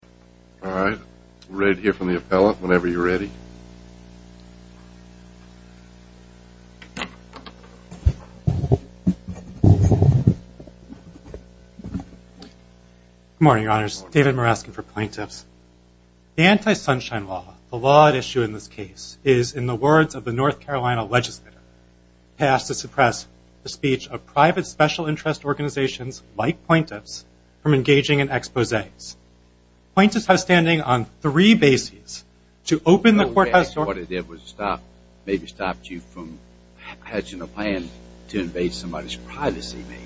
The Anti-Sunshine Law, the law at issue in this case, is, in the words of the North Carolina Legislature, passed to suppress the speech of private special interest organizations like plaintiffs from engaging in exposés. Plaintiffs have standing on three bases to open the courthouse door- Well, we asked what it did was stop, maybe stop you from hatching a plan to invade somebody's privacy, maybe.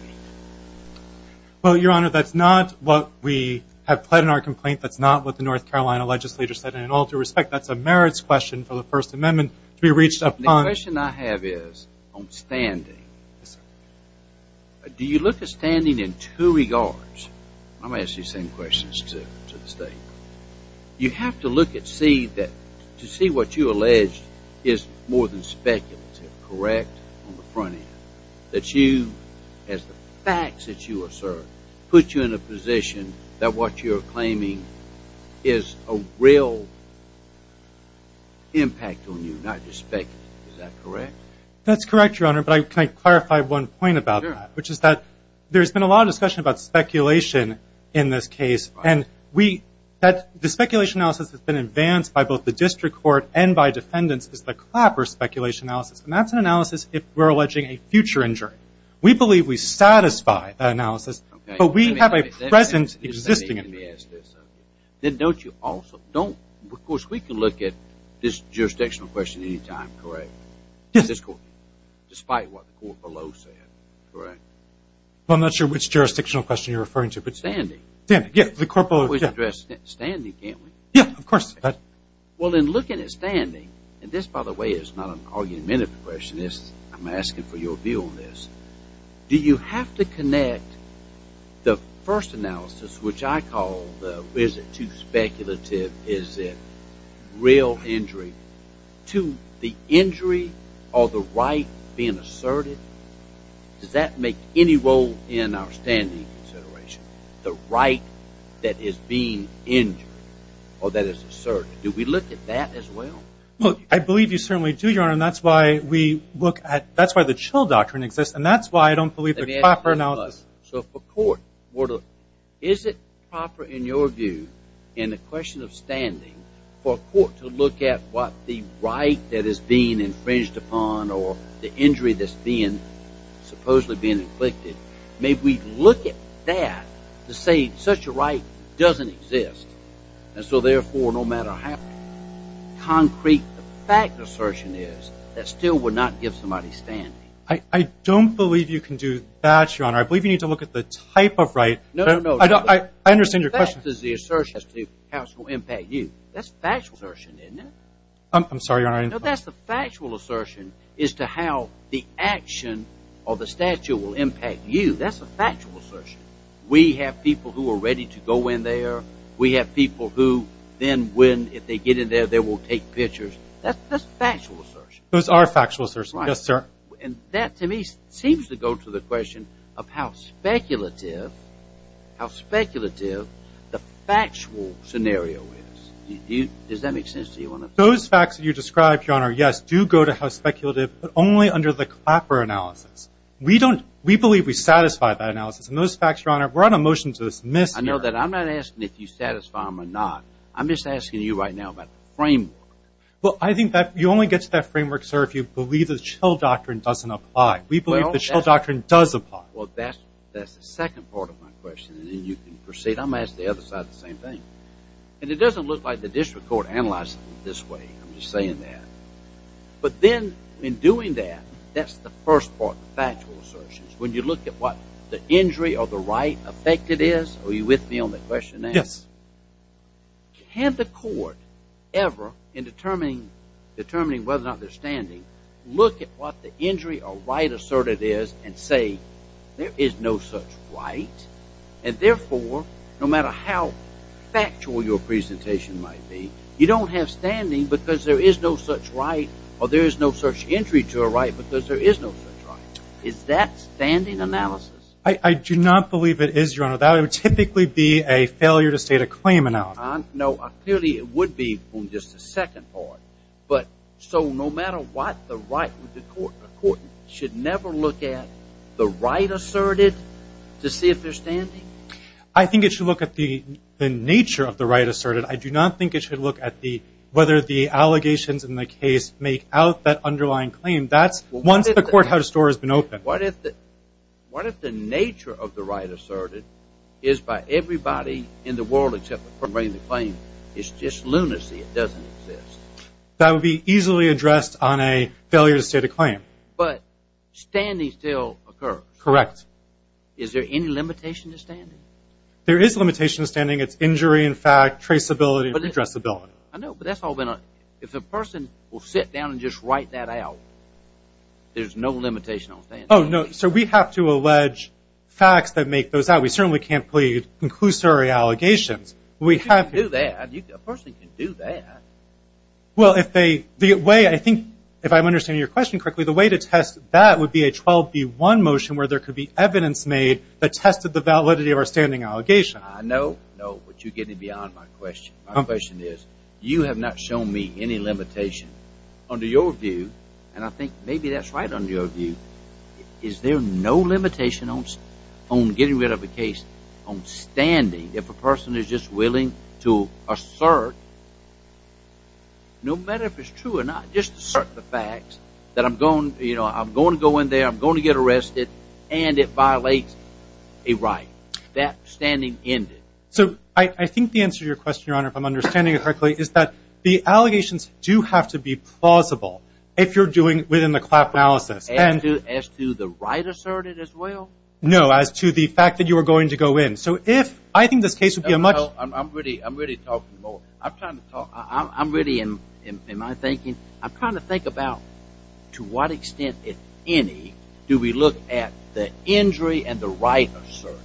Well, Your Honor, that's not what we have pled in our complaint. That's not what the North Carolina Legislature said, and in all due respect, that's a merits question for the First Amendment to be reached upon- The question I have is on standing. Do you look at standing in two regards? I'm going to ask you the same questions to the State. You have to look at, to see what you allege is more than speculative, correct on the front end. That you, as the facts that you assert, put you in a position that what you're claiming is a real impact on you, not just speculative, is that correct? That's correct, Your Honor, but can I clarify one point about that, which is that there's been a lot of discussion about speculation in this case, and the speculation analysis that's been advanced by both the district court and by defendants is the Clapper speculation analysis, and that's an analysis if we're alleging a future injury. We believe we satisfy that analysis, but we have a present existing evidence. Then don't you also, don't, of course, we can look at this jurisdictional question any time, correct? Yes. Despite what the court below said, correct? Well, I'm not sure which jurisdictional question you're referring to, but- Standing. Standing, yes, the court below- We always address standing, can't we? Yes, of course. Well, then looking at standing, and this, by the way, is not an argumentative question, and this, I'm asking for your view on this, do you have to connect the first analysis, which I call the, is it too speculative, is it real injury, to the injury or the right being asserted? Does that make any role in our standing consideration, the right that is being injured, or that is asserted? Do we look at that as well? Well, I believe you certainly do, Your Honor, and that's why we look at, that's why the Chill Doctrine exists, and that's why I don't believe the proper analysis- So for court, is it proper in your view, in the question of standing, for a court to look at what the right that is being infringed upon, or the injury that's being, supposedly being inflicted, may we look at that to say such a right doesn't exist, and so therefore no matter how concrete the fact assertion is, that still would not give somebody standing? I don't believe you can do that, Your Honor, I believe you need to look at the type of right- No, no, no- I understand your question- The fact is the assertion as to how it will impact you, that's factual assertion, isn't it? I'm sorry, Your Honor, I didn't- No, that's the factual assertion as to how the action of the statute will impact you, that's a factual assertion. We have people who are ready to go in there, we have people who then when, if they get in there, they will take pictures, that's factual assertion. Those are factual assertions, yes sir. And that to me seems to go to the question of how speculative, how speculative the factual scenario is, does that make sense to you? Those facts that you describe, Your Honor, yes, do go to how speculative, but only under the Clapper analysis. We don't, we believe we satisfy that analysis, and those facts, Your Honor, we're on a motion to dismiss here- I know that, I'm not asking if you satisfy them or not, I'm just asking you right now about the framework. Well I think that, you only get to that framework, sir, if you believe the Schill Doctrine doesn't apply. We believe the Schill Doctrine does apply. Well that's the second part of my question, and then you can proceed, I'm going to ask the other side the same thing. And it doesn't look like the district court analyzed it this way, I'm just saying that. But then in doing that, that's the first part, the factual assertions, when you look at what the injury or the right affected is, are you with me on the question now? Yes. Can the court ever, in determining whether or not they're standing, look at what the injury or right asserted is and say, there is no such right, and therefore, no matter how factual your presentation might be, you don't have standing because there is no such right, or there is no such injury to a right because there is no such right. Is that standing analysis? I do not believe it is, Your Honor, that would typically be a failure to state a claim analysis. No, clearly it would be on just the second part. But so no matter what the right of the court should never look at the right asserted to see if they're standing? I think it should look at the nature of the right asserted, I do not think it should look at the, whether the allegations in the case make out that underlying claim, that's once the courthouse door has been opened. What if the nature of the right asserted is by everybody in the world except the court bringing the claim, it's just lunacy, it doesn't exist? That would be easily addressed on a failure to state a claim. But standing still occurs? Correct. Is there any limitation to standing? There is limitation to standing, it's injury in fact, traceability, and redressability. I know, but that's all been on, if a person will sit down and just write that out, there's no limitation on standing. Oh no, so we have to allege facts that make those out, we certainly can't plead conclusory allegations. You can do that, a person can do that. Well if they, the way I think, if I'm understanding your question correctly, the way to test that would be a 12B1 motion where there could be evidence made that tested the validity of our standing allegation. I know, but you're getting beyond my question, my question is, you have not shown me any limitation under your view, and I think maybe that's right under your view, is there no limitation on getting rid of a case on standing if a person is just willing to assert, no matter if it's true or not, just assert the facts that I'm going to go in there, I'm going to get arrested, and it violates a right. That standing ended. So I think the answer to your question, Your Honor, if I'm understanding it correctly, is that the allegations do have to be plausible if you're doing it within the CLAP analysis. As to the right asserted as well? No, as to the fact that you were going to go in. So if, I think this case would be a much- I'm really talking more, I'm trying to talk, I'm really, in my thinking, I'm trying to think about to what extent, if any, do we look at the injury and the right asserted?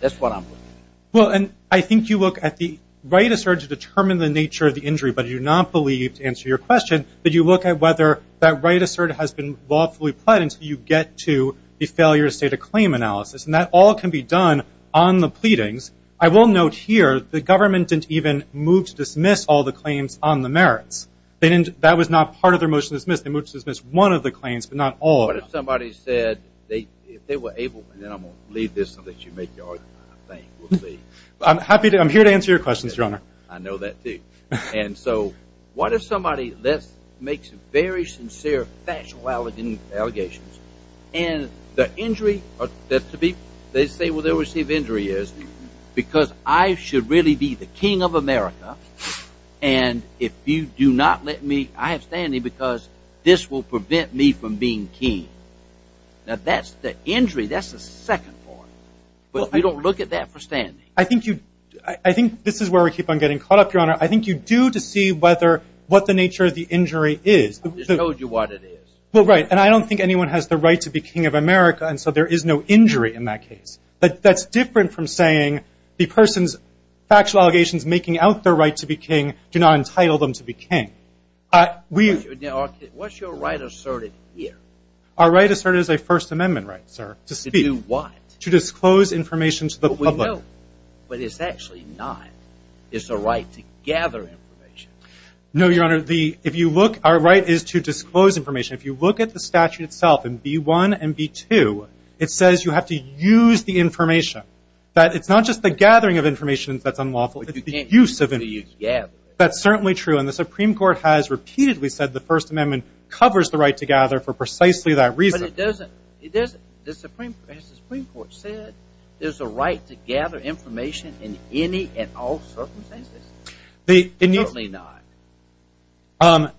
That's what I'm looking at. Well, and I think you look at the right asserted to determine the nature of the injury, but you do not believe, to answer your question, that you look at whether that right asserted has been lawfully pled until you get to the failure to state a claim analysis, and that all can be done on the pleadings. I will note here, the government didn't even move to dismiss all the claims on the merits. They didn't, that was not part of their motion to dismiss. They moved to dismiss one of the claims, but not all of them. But if somebody said, if they were able, and then I'm going to leave this so that you make your argument, I think, we'll see. I'm happy to, I'm here to answer your questions, Your Honor. I know that, too. And so, what if somebody makes very sincere, factual allegations, and the injury, to be, they say what their received injury is, because I should really be the king of America, and if you do not let me, I have standing, because this will prevent me from being king. Now, that's the injury, that's the second part, but if you don't look at that for standing. I think you, I think this is where we keep on getting caught up, Your Honor. I think you do to see whether, what the nature of the injury is. I just told you what it is. Well, right, and I don't think anyone has the right to be king of America, and so there is no injury in that case. But that's different from saying the person's factual allegations making out their right to be king, do not entitle them to be king. We What's your right asserted here? Our right asserted is a First Amendment right, sir, to speak. To do what? To disclose information to the public. But we know, but it's actually not. It's a right to gather information. No, Your Honor, the, if you look, our right is to disclose information. If you look at the statute itself, in B1 and B2, it says you have to use the information. That's certainly true, and the Supreme Court has repeatedly said the First Amendment covers the right to gather for precisely that reason. But it doesn't. It doesn't. Has the Supreme Court said there's a right to gather information in any and all circumstances? Certainly not.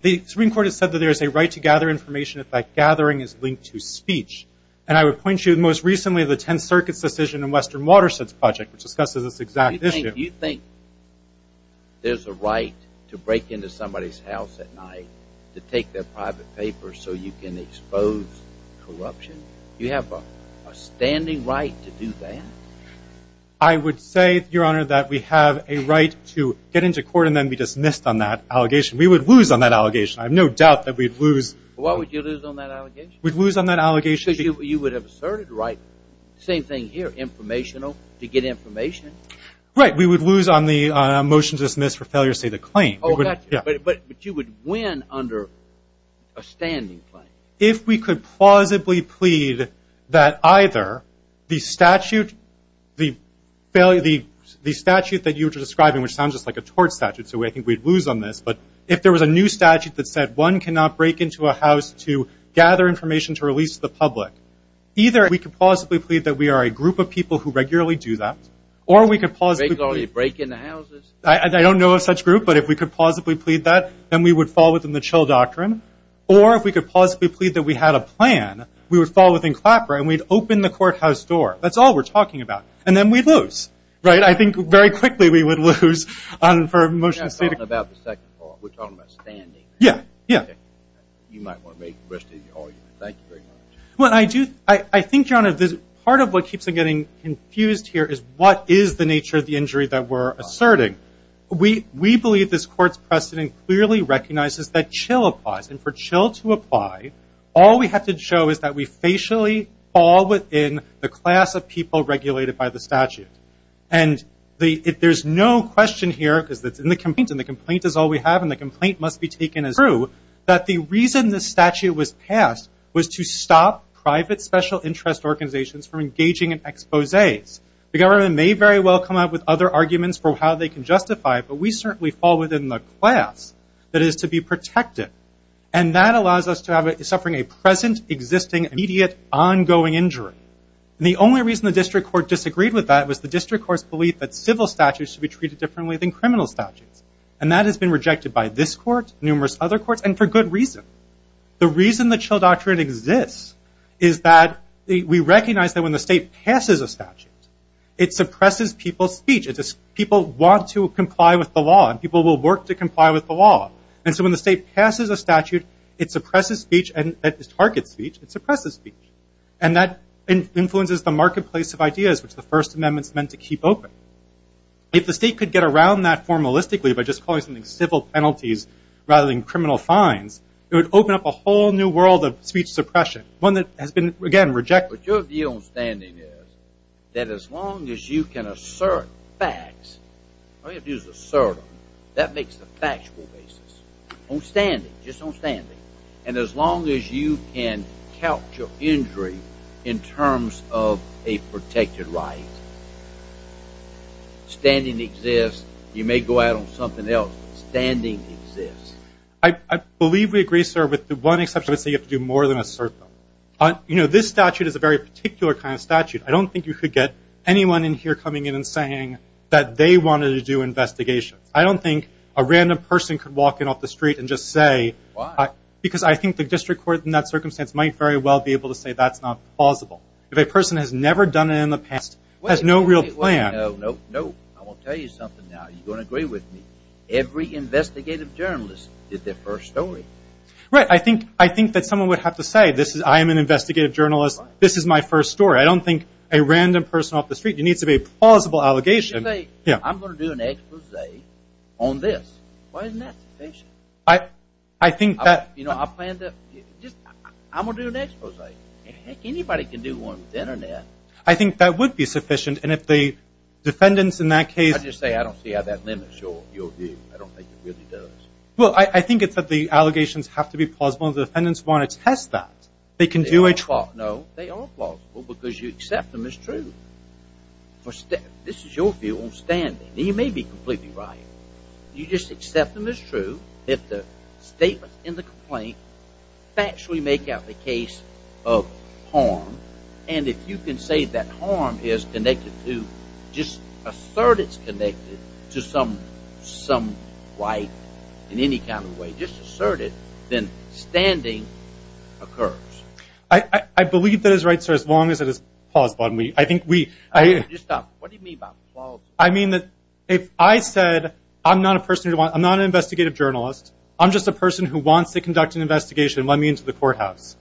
The Supreme Court has said that there is a right to gather information if that gathering is linked to speech. And I would point you to, most recently, the Tenth Circuit's decision in Western Watershed's Project, which discusses this exact issue. You think there's a right to break into somebody's house at night to take their private papers so you can expose corruption? You have a standing right to do that? I would say, Your Honor, that we have a right to get into court and then be dismissed on that allegation. We would lose on that allegation. I have no doubt that we'd lose. Why would you lose on that allegation? We'd lose on that allegation. Because you would have asserted the right. Same thing here. Informational. To get information. Right. We would lose on the motion to dismiss for failure to say the claim. Oh, gotcha. But you would win under a standing claim. If we could plausibly plead that either the statute that you were describing, which sounds just like a tort statute, so I think we'd lose on this. But if there was a new statute that said one cannot break into a house to gather information to release the public, either we could plausibly plead that we are a group of people who regularly do that. Or we could plausibly plead. Break into houses? I don't know of such group. But if we could plausibly plead that, then we would fall within the chill doctrine. Or if we could plausibly plead that we had a plan, we would fall within CLAPRA and we'd open the courthouse door. That's all we're talking about. And then we'd lose. Right? I think very quickly we would lose for a motion to state a claim. We're not talking about the second part. We're talking about standing. Yeah. Yeah. You might want to make the rest of your argument. Thank you very much. Well, I do. I think, John, part of what keeps me getting confused here is what is the nature of the injury that we're asserting? We believe this court's precedent clearly recognizes that chill applies. And for chill to apply, all we have to show is that we facially fall within the class of people regulated by the statute. And if there's no question here, because it's in the complaint, and the complaint is all we have, and the complaint must be taken as true, that the reason this statute was passed was to stop private special interest organizations from engaging in exposés. The government may very well come up with other arguments for how they can justify it, but we certainly fall within the class that is to be protected. And that allows us to have a suffering a present, existing, immediate, ongoing injury. The only reason the district court disagreed with that was the district court's belief that civil statutes should be treated differently than criminal statutes. And that has been rejected by this court, numerous other courts, and for good reason. The reason the chill doctrine exists is that we recognize that when the state passes a statute, it suppresses people's speech. People want to comply with the law, and people will work to comply with the law. And so when the state passes a statute, it suppresses speech, and it targets speech. It suppresses speech. And that influences the marketplace of ideas, which the First Amendment's meant to keep open. If the state could get around that formalistically by just calling something civil penalties rather than criminal fines, it would open up a whole new world of speech suppression, one that has been, again, rejected. But your view on standing is that as long as you can assert facts, I'm going to use assert, that makes the factual basis, on standing, just on standing. And as long as you can count your injury in terms of a protected right, standing exists. You may go out on something else. Standing exists. I believe we agree, sir, with the one exception that would say you have to do more than assert them. You know, this statute is a very particular kind of statute. I don't think you could get anyone in here coming in and saying that they wanted to do investigations. I don't think a random person could walk in off the street and just say, because I think the district court in that circumstance might very well be able to say that's not plausible. If a person has never done it in the past, has no real plan. Wait, wait, wait. No, no, no. I want to tell you something now. You're going to agree with me. Every investigative journalist did their first story. Right. I think that someone would have to say, I am an investigative journalist. This is my first story. I don't think a random person off the street, it needs to be a plausible allegation. You could say, I'm going to do an expose on this. Why isn't that sufficient? I think that... You know, I'll plan to... I'm going to do an expose. Heck, anybody can do one with the internet. I think that would be sufficient, and if the defendants in that case... I'd just say I don't see how that limits your view. I don't think it really does. Well, I think it's that the allegations have to be plausible, and the defendants want to test that. They can do a... No, they are plausible, because you accept them as true. This is your view on standing. You may be completely right. You just accept them as true, if the statement in the complaint factually make out the case of harm, and if you can say that harm is connected to... Just assert it's connected to some white, in any kind of way, just assert it, then standing occurs. I believe that is right, sir, as long as it is plausible. I think we... Just stop. What do you mean by plausible? I mean that if I said, I'm not an investigative journalist, I'm just a person who wants to conduct an investigation, let me into the courthouse.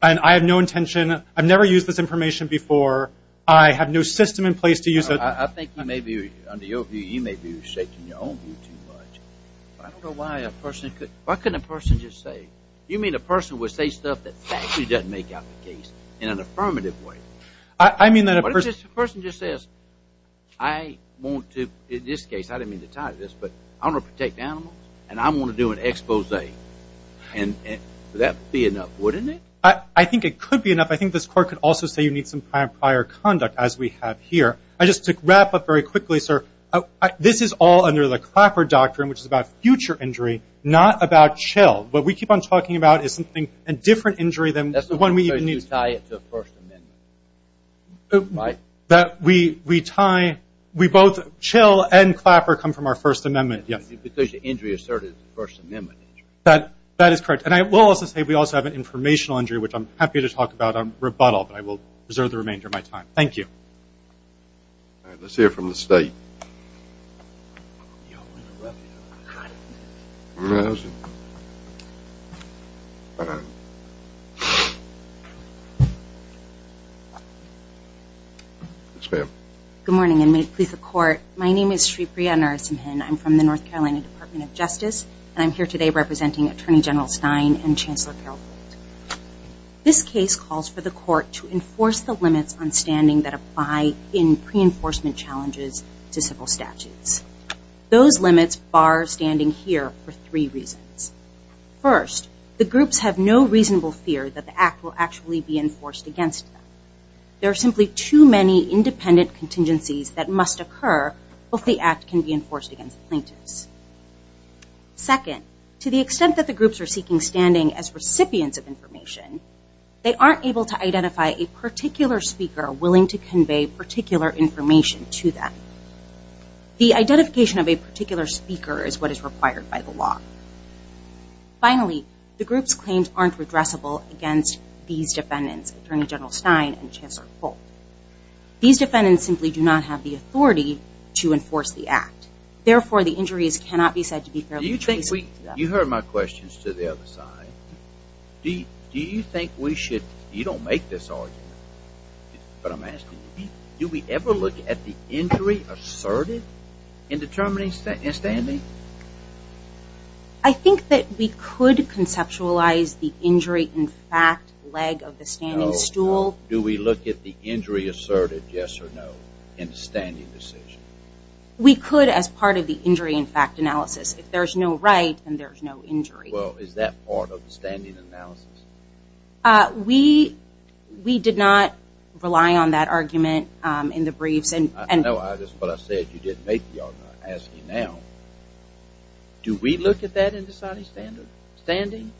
And I have no intention, I've never used this information before, I have no system in place to use it... I think you may be, under your view, you may be reshaping your own view too much. I don't know why a person could, why couldn't a person just say... You mean a person would say stuff that factually doesn't make out the case in an affirmative way? I mean that a person... What if this person just says, I want to, in this case, I didn't mean to tie this, but I want to protect animals, and I want to do an expose. Would that be enough, wouldn't it? I think it could be enough. I think this court could also say you need some prior conduct, as we have here. Just to wrap up very quickly, sir, this is all under the Clapper doctrine, which is about future injury, not about chill. What we keep on talking about is something, a different injury than... That's the one where you tie it to the First Amendment. That we tie, we both, chill and Clapper come from our First Amendment, yes. Because the injury asserted is the First Amendment. That is correct. And I will also say we also have an informational injury, which I'm happy to talk about on rebuttal, but I will reserve the remainder of my time. Thank you. All right, let's hear from the State. Good morning, and may it please the Court. My name is Shreepriya Narasimhan. I'm from the North Carolina Department of Justice, and I'm here today representing Attorney General Stein and Chancellor Carol Gould. This case calls for the Court to enforce the limits on standing that apply in pre-enforcement challenges to civil statutes. Those limits bar standing here for three reasons. First, the groups have no reasonable fear that the Act will actually be enforced against them. There are simply too many independent contingencies that must occur if the Act can be enforced against plaintiffs. Second, to the extent that the groups are seeking standing as recipients of information, they aren't able to identify a particular speaker willing to convey particular information to them. The identification of a particular speaker is what is required by the law. Finally, the group's claims aren't redressable against these defendants, Attorney General Stein and Chancellor Gould. These defendants simply do not have the authority to enforce the Act. Therefore, the injuries cannot be said to be fairly traceable to them. You heard my questions to the other side. Do you think we should, you don't make this argument, but I'm asking you, do we ever look at the injury asserted in determining standing? I think that we could conceptualize the injury in fact leg of the standing stool. Do we look at the injury asserted, yes or no, in the standing decision? We could as part of the injury in fact analysis. If there's no right, then there's no injury. Well, is that part of the standing analysis? We did not rely on that argument in the briefs. I know, but I said you didn't make the argument. I'm asking you now. Do we look at that in deciding standing?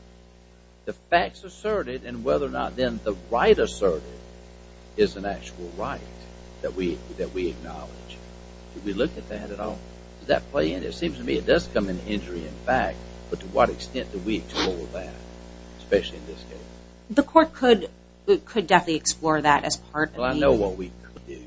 The facts asserted and whether or not then the right asserted is an actual right that we acknowledge. Do we look at that at all? Does that play in? It seems to me it does come in injury in fact, but to what extent do we explore that, especially in this case? The court could definitely explore that as part of the... Well, I know what we could do.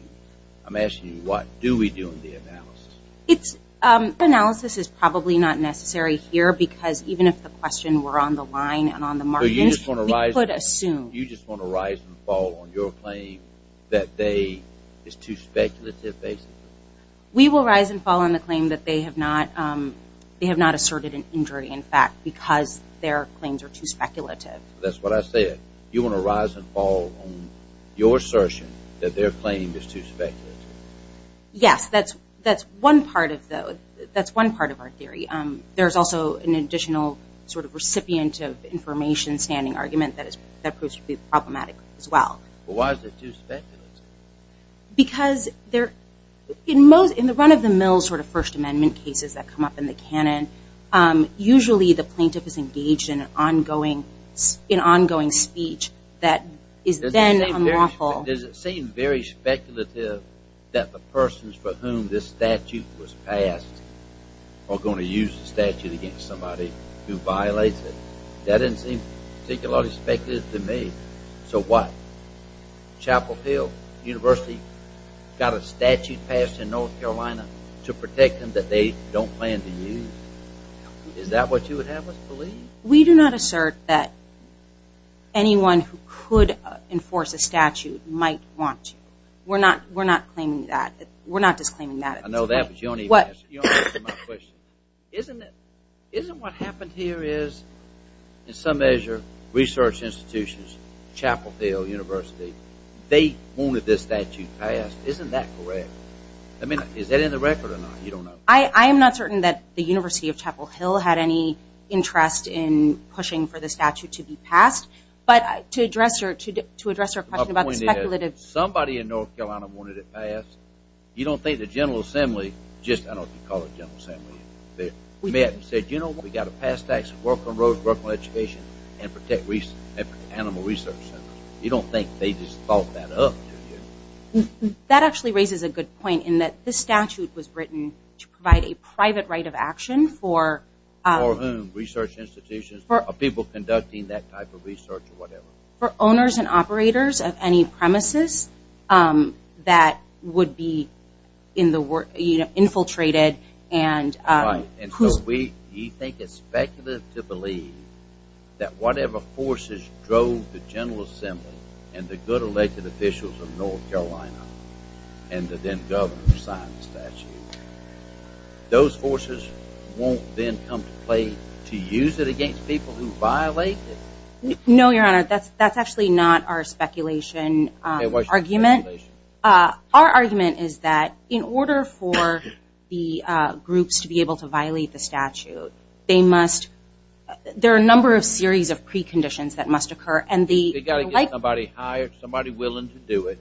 I'm asking you what. Do we do in the analysis? Analysis is probably not necessary here because even if the question were on the line and on the margins, we could assume. You just want to rise and fall on your claim that they is too speculative basically? We will rise and fall on the claim that they have not asserted an injury in fact because their claims are too speculative. That's what I said. You want to rise and fall on your assertion that their claim is too speculative? Yes. That's one part of our theory. There's also an additional recipient of information standing argument that proves to be problematic as well. Why is it too speculative? Because in the run of the mill First Amendment cases that come up in the canon, usually the plaintiff is engaged in an ongoing speech that is then unlawful. Does it seem very speculative that the persons for whom this statute was passed are going to use the statute against somebody who violates it? That didn't seem particularly speculative to me. So what? Chapel Hill University got a statute passed in North Carolina to protect them that they don't plan to use. Is that what you would have us believe? We do not assert that anyone who could enforce a statute might want to. We're not disclaiming that. I know that, but you don't even answer my question. Isn't what happened here is in some measure research institutions, Chapel Hill University, they wanted this statute passed. Isn't that correct? I mean, is that in the record or not? You don't know. I am not certain that the University of Chapel Hill had any interest in pushing for the statute to be passed. But to address your question about the speculative... Somebody in North Carolina wanted it passed. You don't think the General Assembly, I don't know if you call it the General Assembly, met and said, you know what, we've got to pass tax on Brooklyn roads, Brooklyn education, and protect animal research centers. You don't think they just thought that up? That actually raises a good point in that this statute was written to provide a private right of action for... For whom? Research institutions? People conducting that type of research or whatever. For owners and operators of any premises that would be infiltrated and... Right, and so we think it's speculative to believe that whatever forces drove the General Assembly and the good elected officials of North Carolina and the then Governor signed the statute, those forces won't then come to play to use it against people who violate it? No, Your Honor, that's actually not our speculation argument. Our argument is that in order for the groups to be able to violate the statute, they must... there are a number of series of preconditions that must occur. They've got to get somebody hired, somebody willing to do it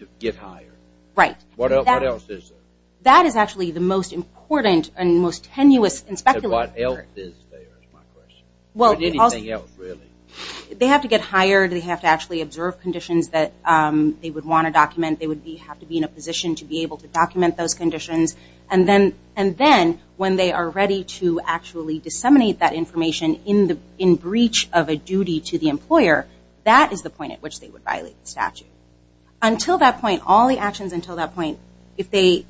to get hired. Right. What else is there? That is actually the most important and most tenuous and speculative. What else is there, is my question. Anything else, really. They have to get hired. They have to actually observe conditions that they would want to document. They would have to be in a position to be able to document those conditions. And then when they are ready to actually disseminate that information in breach of a duty to the employer, that is the point at which they would violate the statute. Until that point, all the actions until that point, if they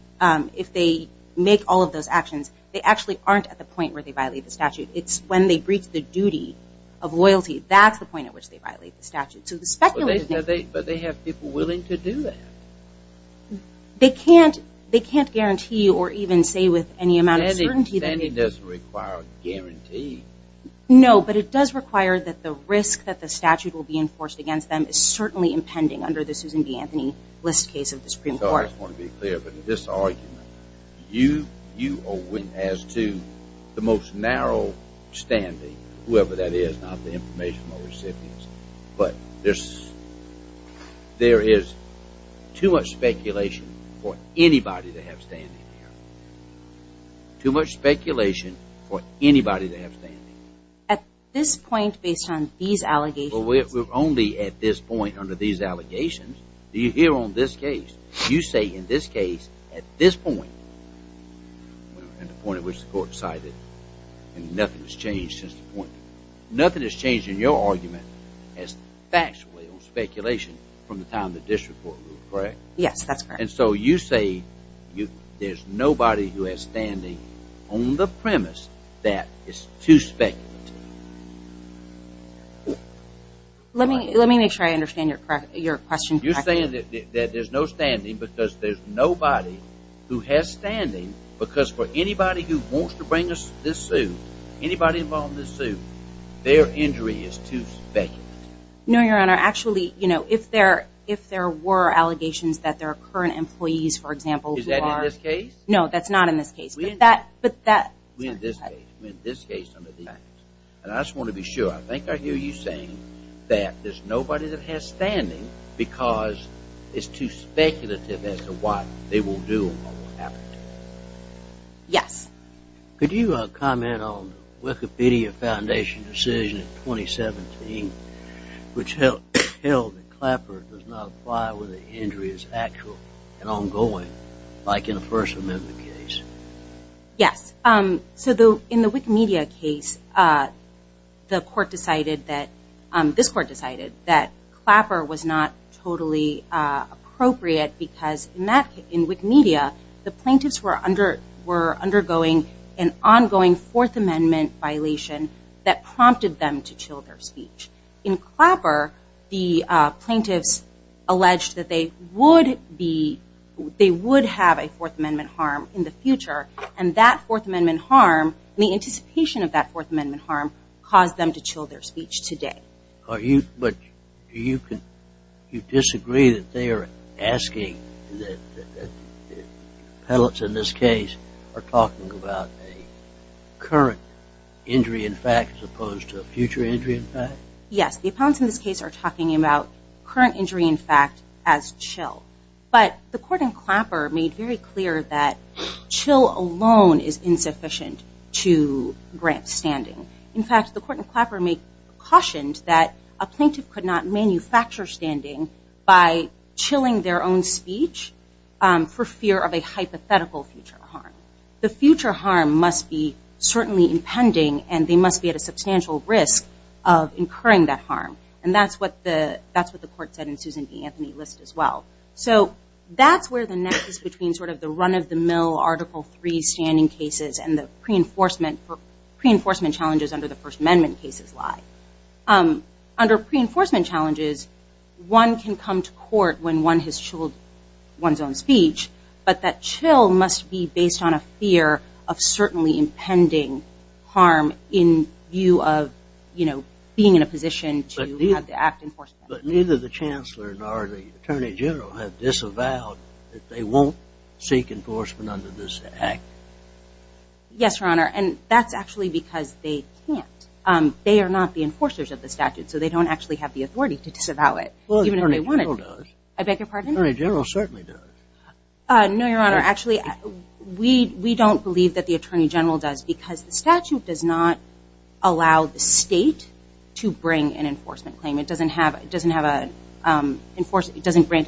make all of those actions, they actually aren't at the point where they violate the statute. It's when they breach the duty of loyalty. That's the point at which they violate the statute. But they have people willing to do that. They can't guarantee or even say with any amount of certainty. Standing doesn't require a guarantee. No, but it does require that the risk that the statute will be enforced against them is certainly impending under the Susan B. Anthony List case of the Supreme Court. I just want to be clear. In this argument, you are winning as to the most narrow standing, whoever that is, not the informational recipients, but there is too much speculation for anybody to have standing there. Too much speculation for anybody to have standing. At this point, based on these allegations? Well, we're only at this point under these allegations. You hear on this case, you say in this case, at this point, at the point at which the court decided, and nothing has changed since the point. Nothing has changed in your argument as factually or speculation from the time the district court ruled, correct? Yes, that's correct. And so you say there's nobody who has standing on the premise that it's too speculative. Let me make sure I understand your question. You're saying that there's no standing because there's nobody who has standing because for anybody who wants to bring this suit, anybody involved in this suit, their injury is too speculative. No, Your Honor. Actually, if there were allegations that there are current employees, for example, Is that in this case? No, that's not in this case. We're in this case under these allegations. And I just want to be sure. I think I hear you saying that there's nobody that has standing because it's too speculative as to what they will do or what will happen to them. Yes. Could you comment on the Wikipedia Foundation decision in 2017, which held that Clapper does not apply when the injury is actual and ongoing, like in the First Amendment case? Yes. In the Wikimedia case, this court decided that Clapper was not totally appropriate because in Wikimedia, the plaintiffs were undergoing an ongoing Fourth Amendment violation that prompted them to chill their speech. In Clapper, the plaintiffs alleged that they would have a Fourth Amendment harm in the future, and that Fourth Amendment harm and the anticipation of that Fourth Amendment harm caused them to chill their speech today. But do you disagree that they are asking, that the appellants in this case are talking about a current injury in fact as opposed to a future injury in fact? Yes. The appellants in this case are talking about current injury in fact as chill. But the court in Clapper made very clear that chill alone is insufficient to grant standing. In fact, the court in Clapper cautioned that a plaintiff could not manufacture standing by chilling their own speech for fear of a hypothetical future harm. The future harm must be certainly impending, and they must be at a substantial risk of incurring that harm. And that's what the court said in Susan B. Anthony List as well. So that's where the nexus between sort of the run-of-the-mill Article III standing cases and the pre-enforcement challenges under the First Amendment cases lie. Under pre-enforcement challenges, one can come to court when one has chilled one's own speech, but that chill must be based on a fear of certainly impending harm in view of being in a position to have the act enforced. But neither the chancellor nor the attorney general have disavowed that they won't seek enforcement under this act. Yes, Your Honor, and that's actually because they can't. They are not the enforcers of the statute, so they don't actually have the authority to disavow it. Well, the attorney general does. I beg your pardon? The attorney general certainly does. No, Your Honor, actually we don't believe that the attorney general does because the statute does not allow the state to bring an enforcement claim. It doesn't grant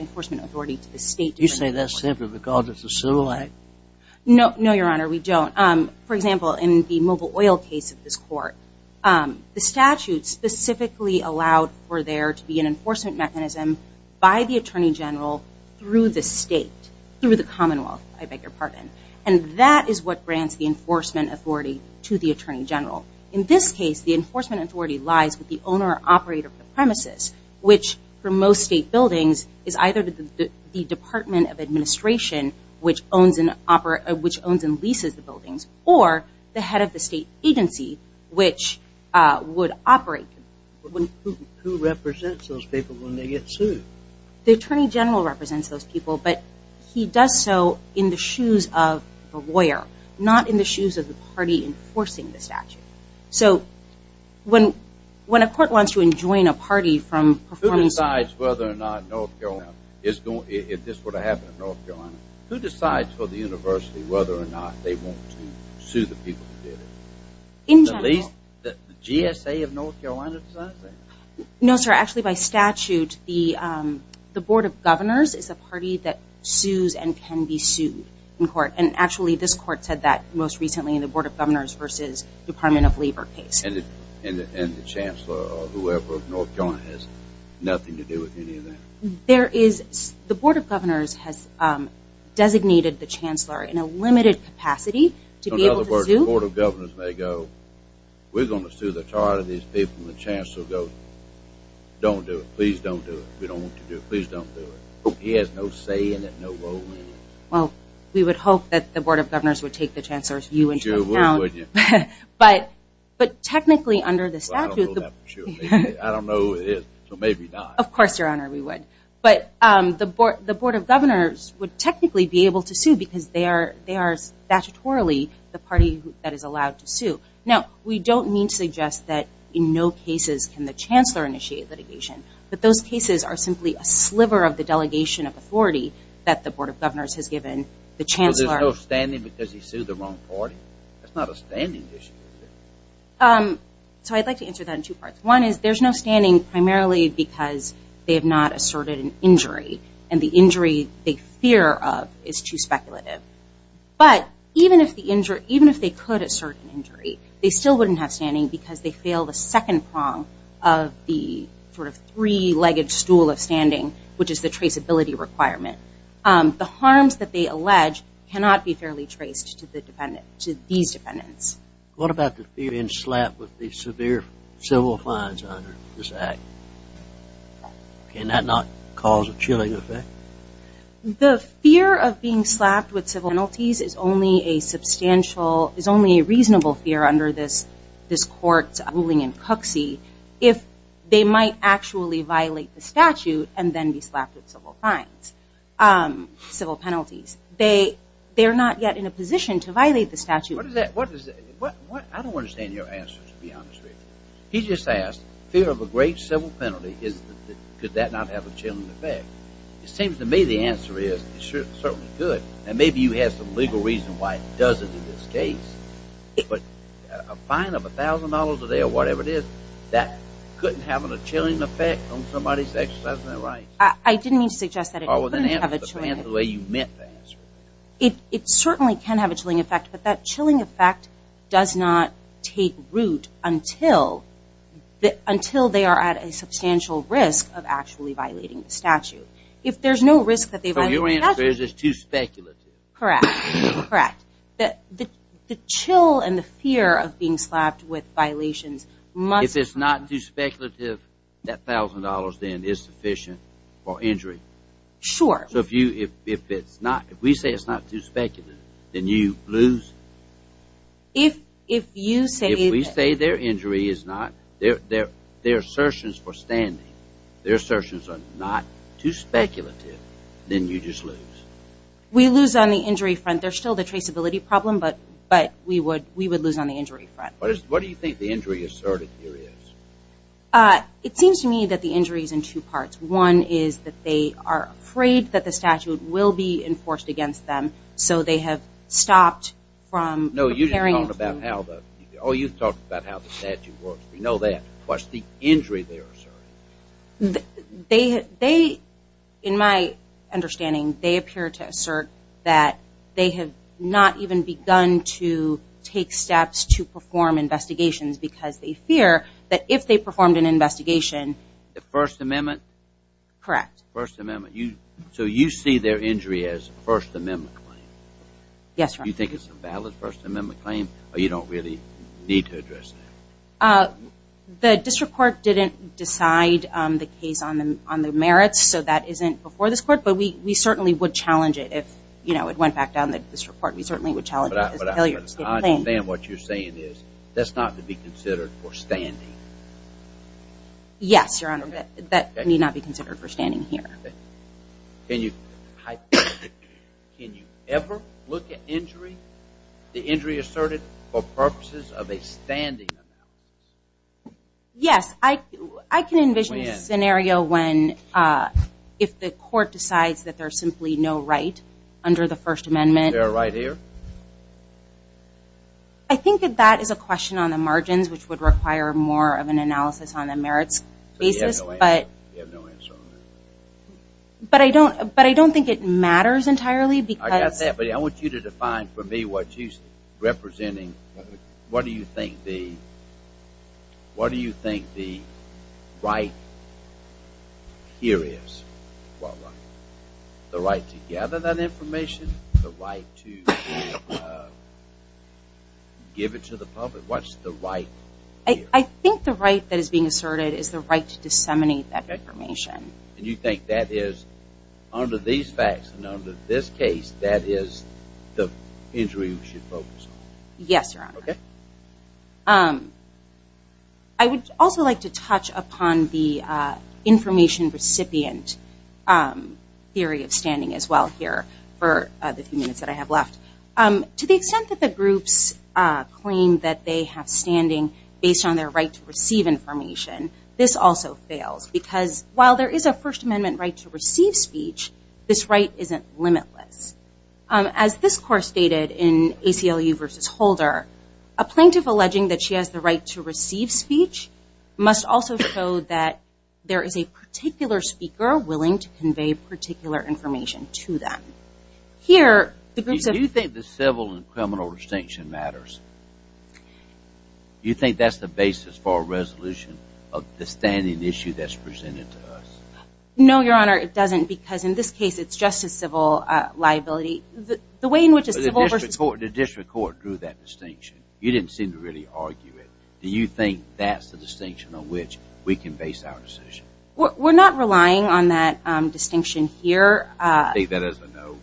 enforcement authority to the state. You say that simply because it's a civil act? No, Your Honor, we don't. For example, in the Mobil Oil case of this court, the statute specifically allowed for there to be an enforcement mechanism by the attorney general through the state, through the Commonwealth, I beg your pardon. And that is what grants the enforcement authority to the attorney general. In this case, the enforcement authority lies with the owner or operator of the premises, which for most state buildings is either the Department of Administration, which owns and leases the buildings, or the head of the state agency, which would operate. Who represents those people when they get sued? The attorney general represents those people, but he does so in the shoes of the lawyer, not in the shoes of the party enforcing the statute. So when a court wants to enjoin a party from performance of the law. Who decides whether or not North Carolina, if this were to happen in North Carolina, who decides for the university whether or not they want to sue the people who did it? In general. The GSA of North Carolina decides that? No, sir, actually by statute, the Board of Governors is a party that sues and can be sued in court. And actually, this court said that most recently in the Board of Governors versus Department of Labor case. And the chancellor or whoever of North Carolina has nothing to do with any of that? There is. The Board of Governors has designated the chancellor in a limited capacity to be able to sue. In other words, the Board of Governors may go, we're going to sue the chart of these people. And the chancellor will go, don't do it. Please don't do it. We don't want you to do it. Please don't do it. He has no say in it, no role in it. Well, we would hope that the Board of Governors would take the chancellor's view into account. But technically under the statute. I don't know who it is, so maybe not. Of course, Your Honor, we would. But the Board of Governors would technically be able to sue because they are statutorily the party that is allowed to sue. Now, we don't mean to suggest that in no cases can the chancellor initiate litigation. But those cases are simply a sliver of the delegation of authority that the Board of Governors has given the chancellor. Well, there's no standing because he sued the wrong party. That's not a standing issue, is it? So I'd like to answer that in two parts. And the injury they fear of is too speculative. But even if they could assert an injury, they still wouldn't have standing because they fail the second prong of the sort of three-legged stool of standing, which is the traceability requirement. The harms that they allege cannot be fairly traced to these defendants. What about the fear and slap with the severe civil fines under this act? Can that not cause a chilling effect? The fear of being slapped with civil penalties is only a substantial, is only a reasonable fear under this court's ruling in coxy if they might actually violate the statute and then be slapped with civil fines, civil penalties. They are not yet in a position to violate the statute. What is that? I don't understand your answer, to be honest with you. He just asked, fear of a grave civil penalty. Could that not have a chilling effect? It seems to me the answer is it certainly could. And maybe you have some legal reason why it doesn't in this case. But a fine of $1,000 a day or whatever it is, that couldn't have a chilling effect on somebody's exercise of their rights? I didn't mean to suggest that it couldn't have a chilling effect. It certainly can have a chilling effect. But that chilling effect does not take root until they are at a substantial risk of actually violating the statute. If there's no risk that they violate the statute. So your answer is it's too speculative? Correct, correct. The chill and the fear of being slapped with violations must. If it's not too speculative, that $1,000 then is sufficient for injury? Sure. So if we say it's not too speculative, then you lose? If we say their injury is not, their assertions for standing, their assertions are not too speculative, then you just lose. We lose on the injury front. There's still the traceability problem, but we would lose on the injury front. What do you think the injury asserted here is? It seems to me that the injury is in two parts. One is that they are afraid that the statute will be enforced against them, so they have stopped from preparing. No, you just talked about how the statute works. We know that. What's the injury they're asserting? In my understanding, they appear to assert that they have not even begun to take steps to perform investigations because they fear that if they performed an investigation. The First Amendment? Correct. The First Amendment. So you see their injury as a First Amendment claim? Yes, Your Honor. Do you think it's a valid First Amendment claim or you don't really need to address that? The district court didn't decide the case on the merits, so that isn't before this court, but we certainly would challenge it if it went back down the district court. We certainly would challenge it as a failure to get a claim. But I understand what you're saying is that's not to be considered for standing. Yes, Your Honor. That may not be considered for standing here. Can you ever look at injury, the injury asserted, for purposes of a standing amount? Yes. I can envision a scenario if the court decides that there's simply no right under the First Amendment. Is there a right here? I think that that is a question on the margins, which would require more of an analysis on the merits basis. So you have no answer on that? But I don't think it matters entirely. I got that, but I want you to define for me what you're representing. What do you think the right here is? What right? The right to gather that information? The right to give it to the public? What's the right here? I think the right that is being asserted is the right to disseminate that information. And you think that is, under these facts and under this case, that is the injury we should focus on? Yes, Your Honor. Okay. I would also like to touch upon the information recipient theory of standing as well here for the few minutes that I have left. To the extent that the groups claim that they have standing based on their right to receive information, this also fails. Because while there is a First Amendment right to receive speech, this right isn't limitless. As this court stated in ACLU v. Holder, a plaintiff alleging that she has the right to receive speech must also show that there is a particular speaker willing to convey particular information to them. Do you think the civil and criminal distinction matters? Do you think that is the basis for a resolution of the standing issue that is presented to us? No, Your Honor, it doesn't. Because in this case, it is just a civil liability. The way in which a civil versus... The district court drew that distinction. You didn't seem to really argue it. Do you think that is the distinction on which we can base our decision? We are not relying on that distinction here. I take that as a no.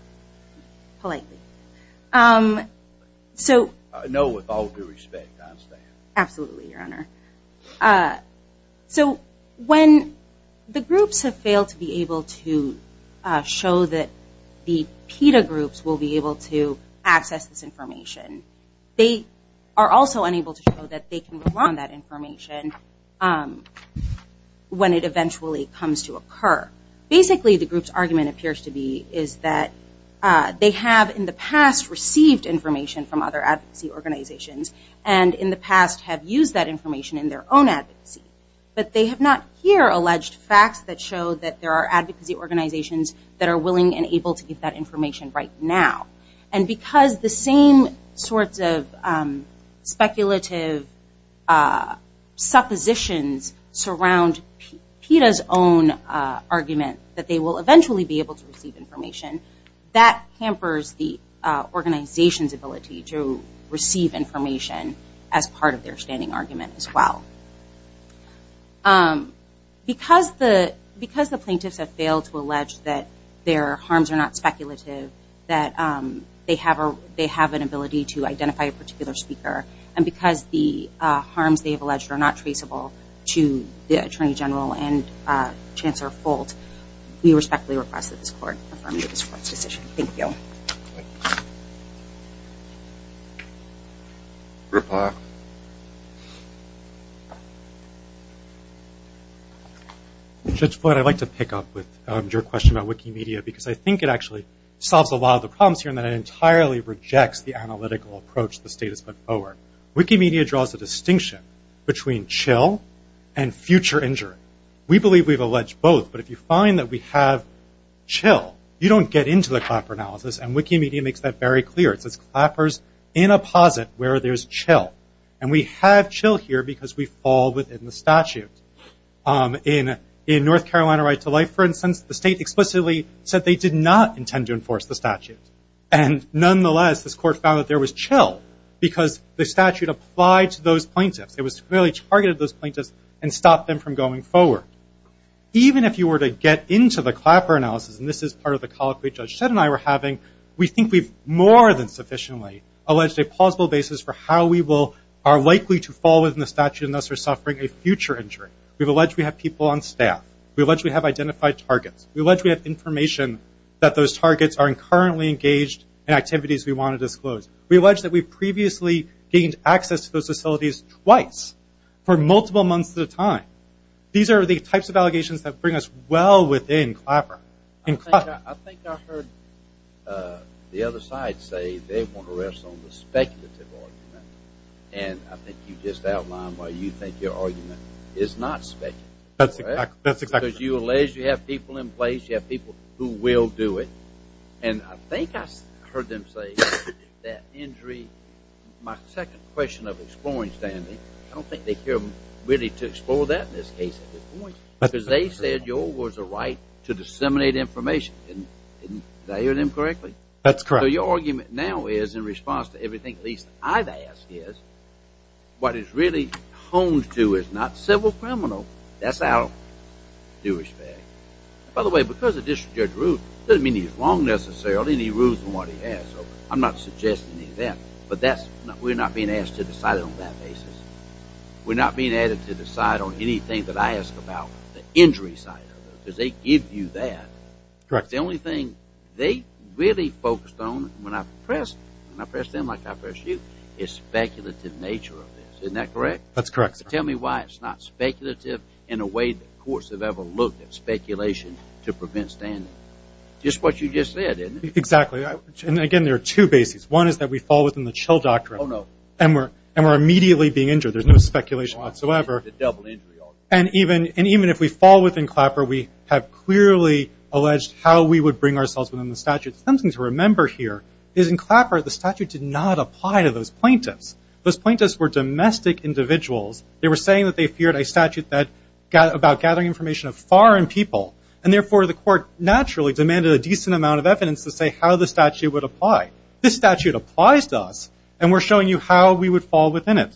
Politely. A no with all due respect. Absolutely, Your Honor. When the groups have failed to be able to show that the PETA groups will be able to access this information, they are also unable to show that they can rely on that information when it eventually comes to occur. Basically, the group's argument appears to be that they have in the past received information from other advocacy organizations and in the past have used that information in their own advocacy. But they have not here alleged facts that show that there are advocacy organizations that are willing and able to give that information right now. And because the same sorts of speculative suppositions surround PETA's own argument that they will eventually be able to receive information, that hampers the organization's ability to receive information as part of their standing argument as well. Because the plaintiffs have failed to allege that their harms are not speculative, that they have an ability to identify a particular speaker, and because the harms they have alleged are not traceable to the Attorney General and Chancellor Folt, we respectfully request that this Court affirm this Court's decision. Thank you. Thank you. Riplock. Judge Floyd, I'd like to pick up with your question about Wikimedia because I think it actually solves a lot of the problems here and that it entirely rejects the analytical approach the state has put forward. Wikimedia draws a distinction between chill and future injury. We believe we've alleged both, but if you find that we have chill, you don't get into the Clapper analysis, and Wikimedia makes that very clear. It says Clapper's in a posit where there's chill. And we have chill here because we fall within the statute. In North Carolina Right to Life, for instance, the state explicitly said they did not intend to enforce the statute. And nonetheless, this Court found that there was chill because the statute applied to those plaintiffs. It really targeted those plaintiffs and stopped them from going forward. Even if you were to get into the Clapper analysis, and this is part of the colloquy Judge Shedd and I were having, we think we've more than sufficiently alleged a plausible basis for how we are likely to fall within the statute unless we're suffering a future injury. We've alleged we have people on staff. We've alleged we have identified targets. We've alleged we have information that those targets are currently engaged in activities we want to disclose. We've alleged that we've previously gained access to those facilities twice for multiple months at a time. These are the types of allegations that bring us well within Clapper. I think I heard the other side say they want to rest on the speculative argument. And I think you just outlined why you think your argument is not speculative. That's exactly right. Because you allege you have people in place, you have people who will do it. And I think I heard them say that injury, my second question of exploring, Stanley, I don't think they care really to explore that in this case at this point because they said yours was a right to disseminate information. Did I hear them correctly? That's correct. So your argument now is in response to everything at least I've asked is what is really honed to is not civil criminal. That's our Jewish fact. By the way, because the district judge ruled, it doesn't mean he's wrong necessarily and he rules on what he has. So I'm not suggesting any of that. But we're not being asked to decide on that basis. We're not being added to the side on anything that I ask about the injury side because they give you that. Correct. The only thing they really focused on when I press them like I press you is speculative nature of this. Isn't that correct? That's correct. Tell me why it's not speculative in a way that courts have ever looked at speculation to prevent standing. Just what you just said, isn't it? Exactly. And, again, there are two bases. One is that we fall within the chill doctrine. Oh, no. And we're immediately being injured. There's no speculation whatsoever. It's a double injury already. And even if we fall within Clapper, we have clearly alleged how we would bring ourselves within the statute. Something to remember here is in Clapper the statute did not apply to those plaintiffs. Those plaintiffs were domestic individuals. They were saying that they feared a statute about gathering information of foreign people, and, therefore, the court naturally demanded a decent amount of evidence to say how the statute would apply. This statute applies to us, and we're showing you how we would fall within it.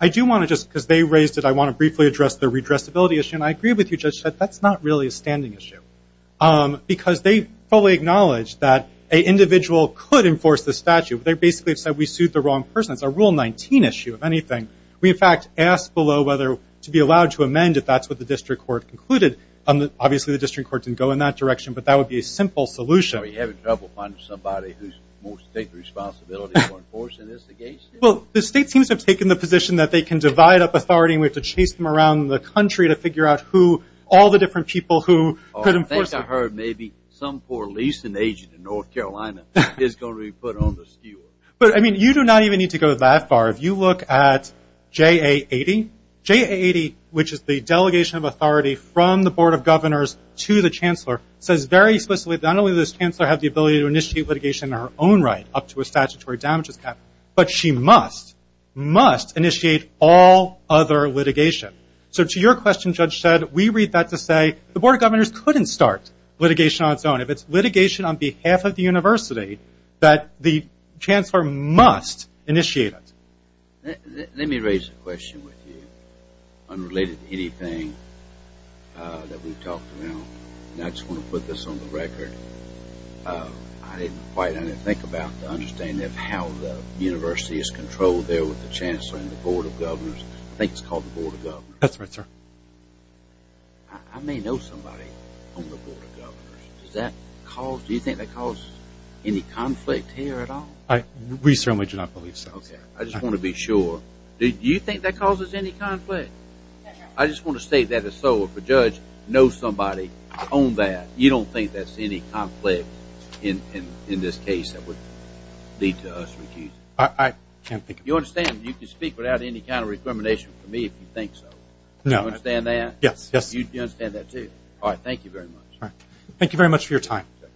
I do want to just, because they raised it, I want to briefly address the redressability issue. And I agree with you, Judge, that that's not really a standing issue. Because they fully acknowledge that an individual could enforce the statute. They basically have said we sued the wrong person. It's a Rule 19 issue, if anything. We, in fact, asked below whether to be allowed to amend if that's what the district court concluded. Obviously, the district court didn't go in that direction, but that would be a simple solution. Are we having trouble finding somebody who's more state responsibility for enforcing this against him? Well, the state seems to have taken the position that they can divide up authority, and we have to chase them around the country to figure out who all the different people who could enforce it. I think I heard maybe some poor leasing agent in North Carolina is going to be put on the skewer. But, I mean, you do not even need to go that far. If you look at JA80, JA80, which is the delegation of authority from the Board of Governors to the Chancellor, says very explicitly that not only does the Chancellor have the ability to initiate litigation in her own right up to a statutory damages cap, but she must, must initiate all other litigation. So to your question, Judge Shedd, we read that to say the Board of Governors couldn't start litigation on its own. If it's litigation on behalf of the university, that the Chancellor must initiate it. Let me raise a question with you unrelated to anything that we've talked about, and I just want to put this on the record. I didn't quite think about the understanding of how the university is controlled there with the Chancellor and the Board of Governors. I think it's called the Board of Governors. That's right, sir. I may know somebody on the Board of Governors. Does that cause, do you think that causes any conflict here at all? We certainly do not believe so. Okay. I just want to be sure. Do you think that causes any conflict? I just want to state that as so. If a judge knows somebody on that, you don't think that's any conflict in this case that would lead to us refusing? I can't think of it. You understand, you can speak without any kind of recrimination for me if you think so. No. You understand that? Yes. You understand that too? All right. Thank you very much. All right.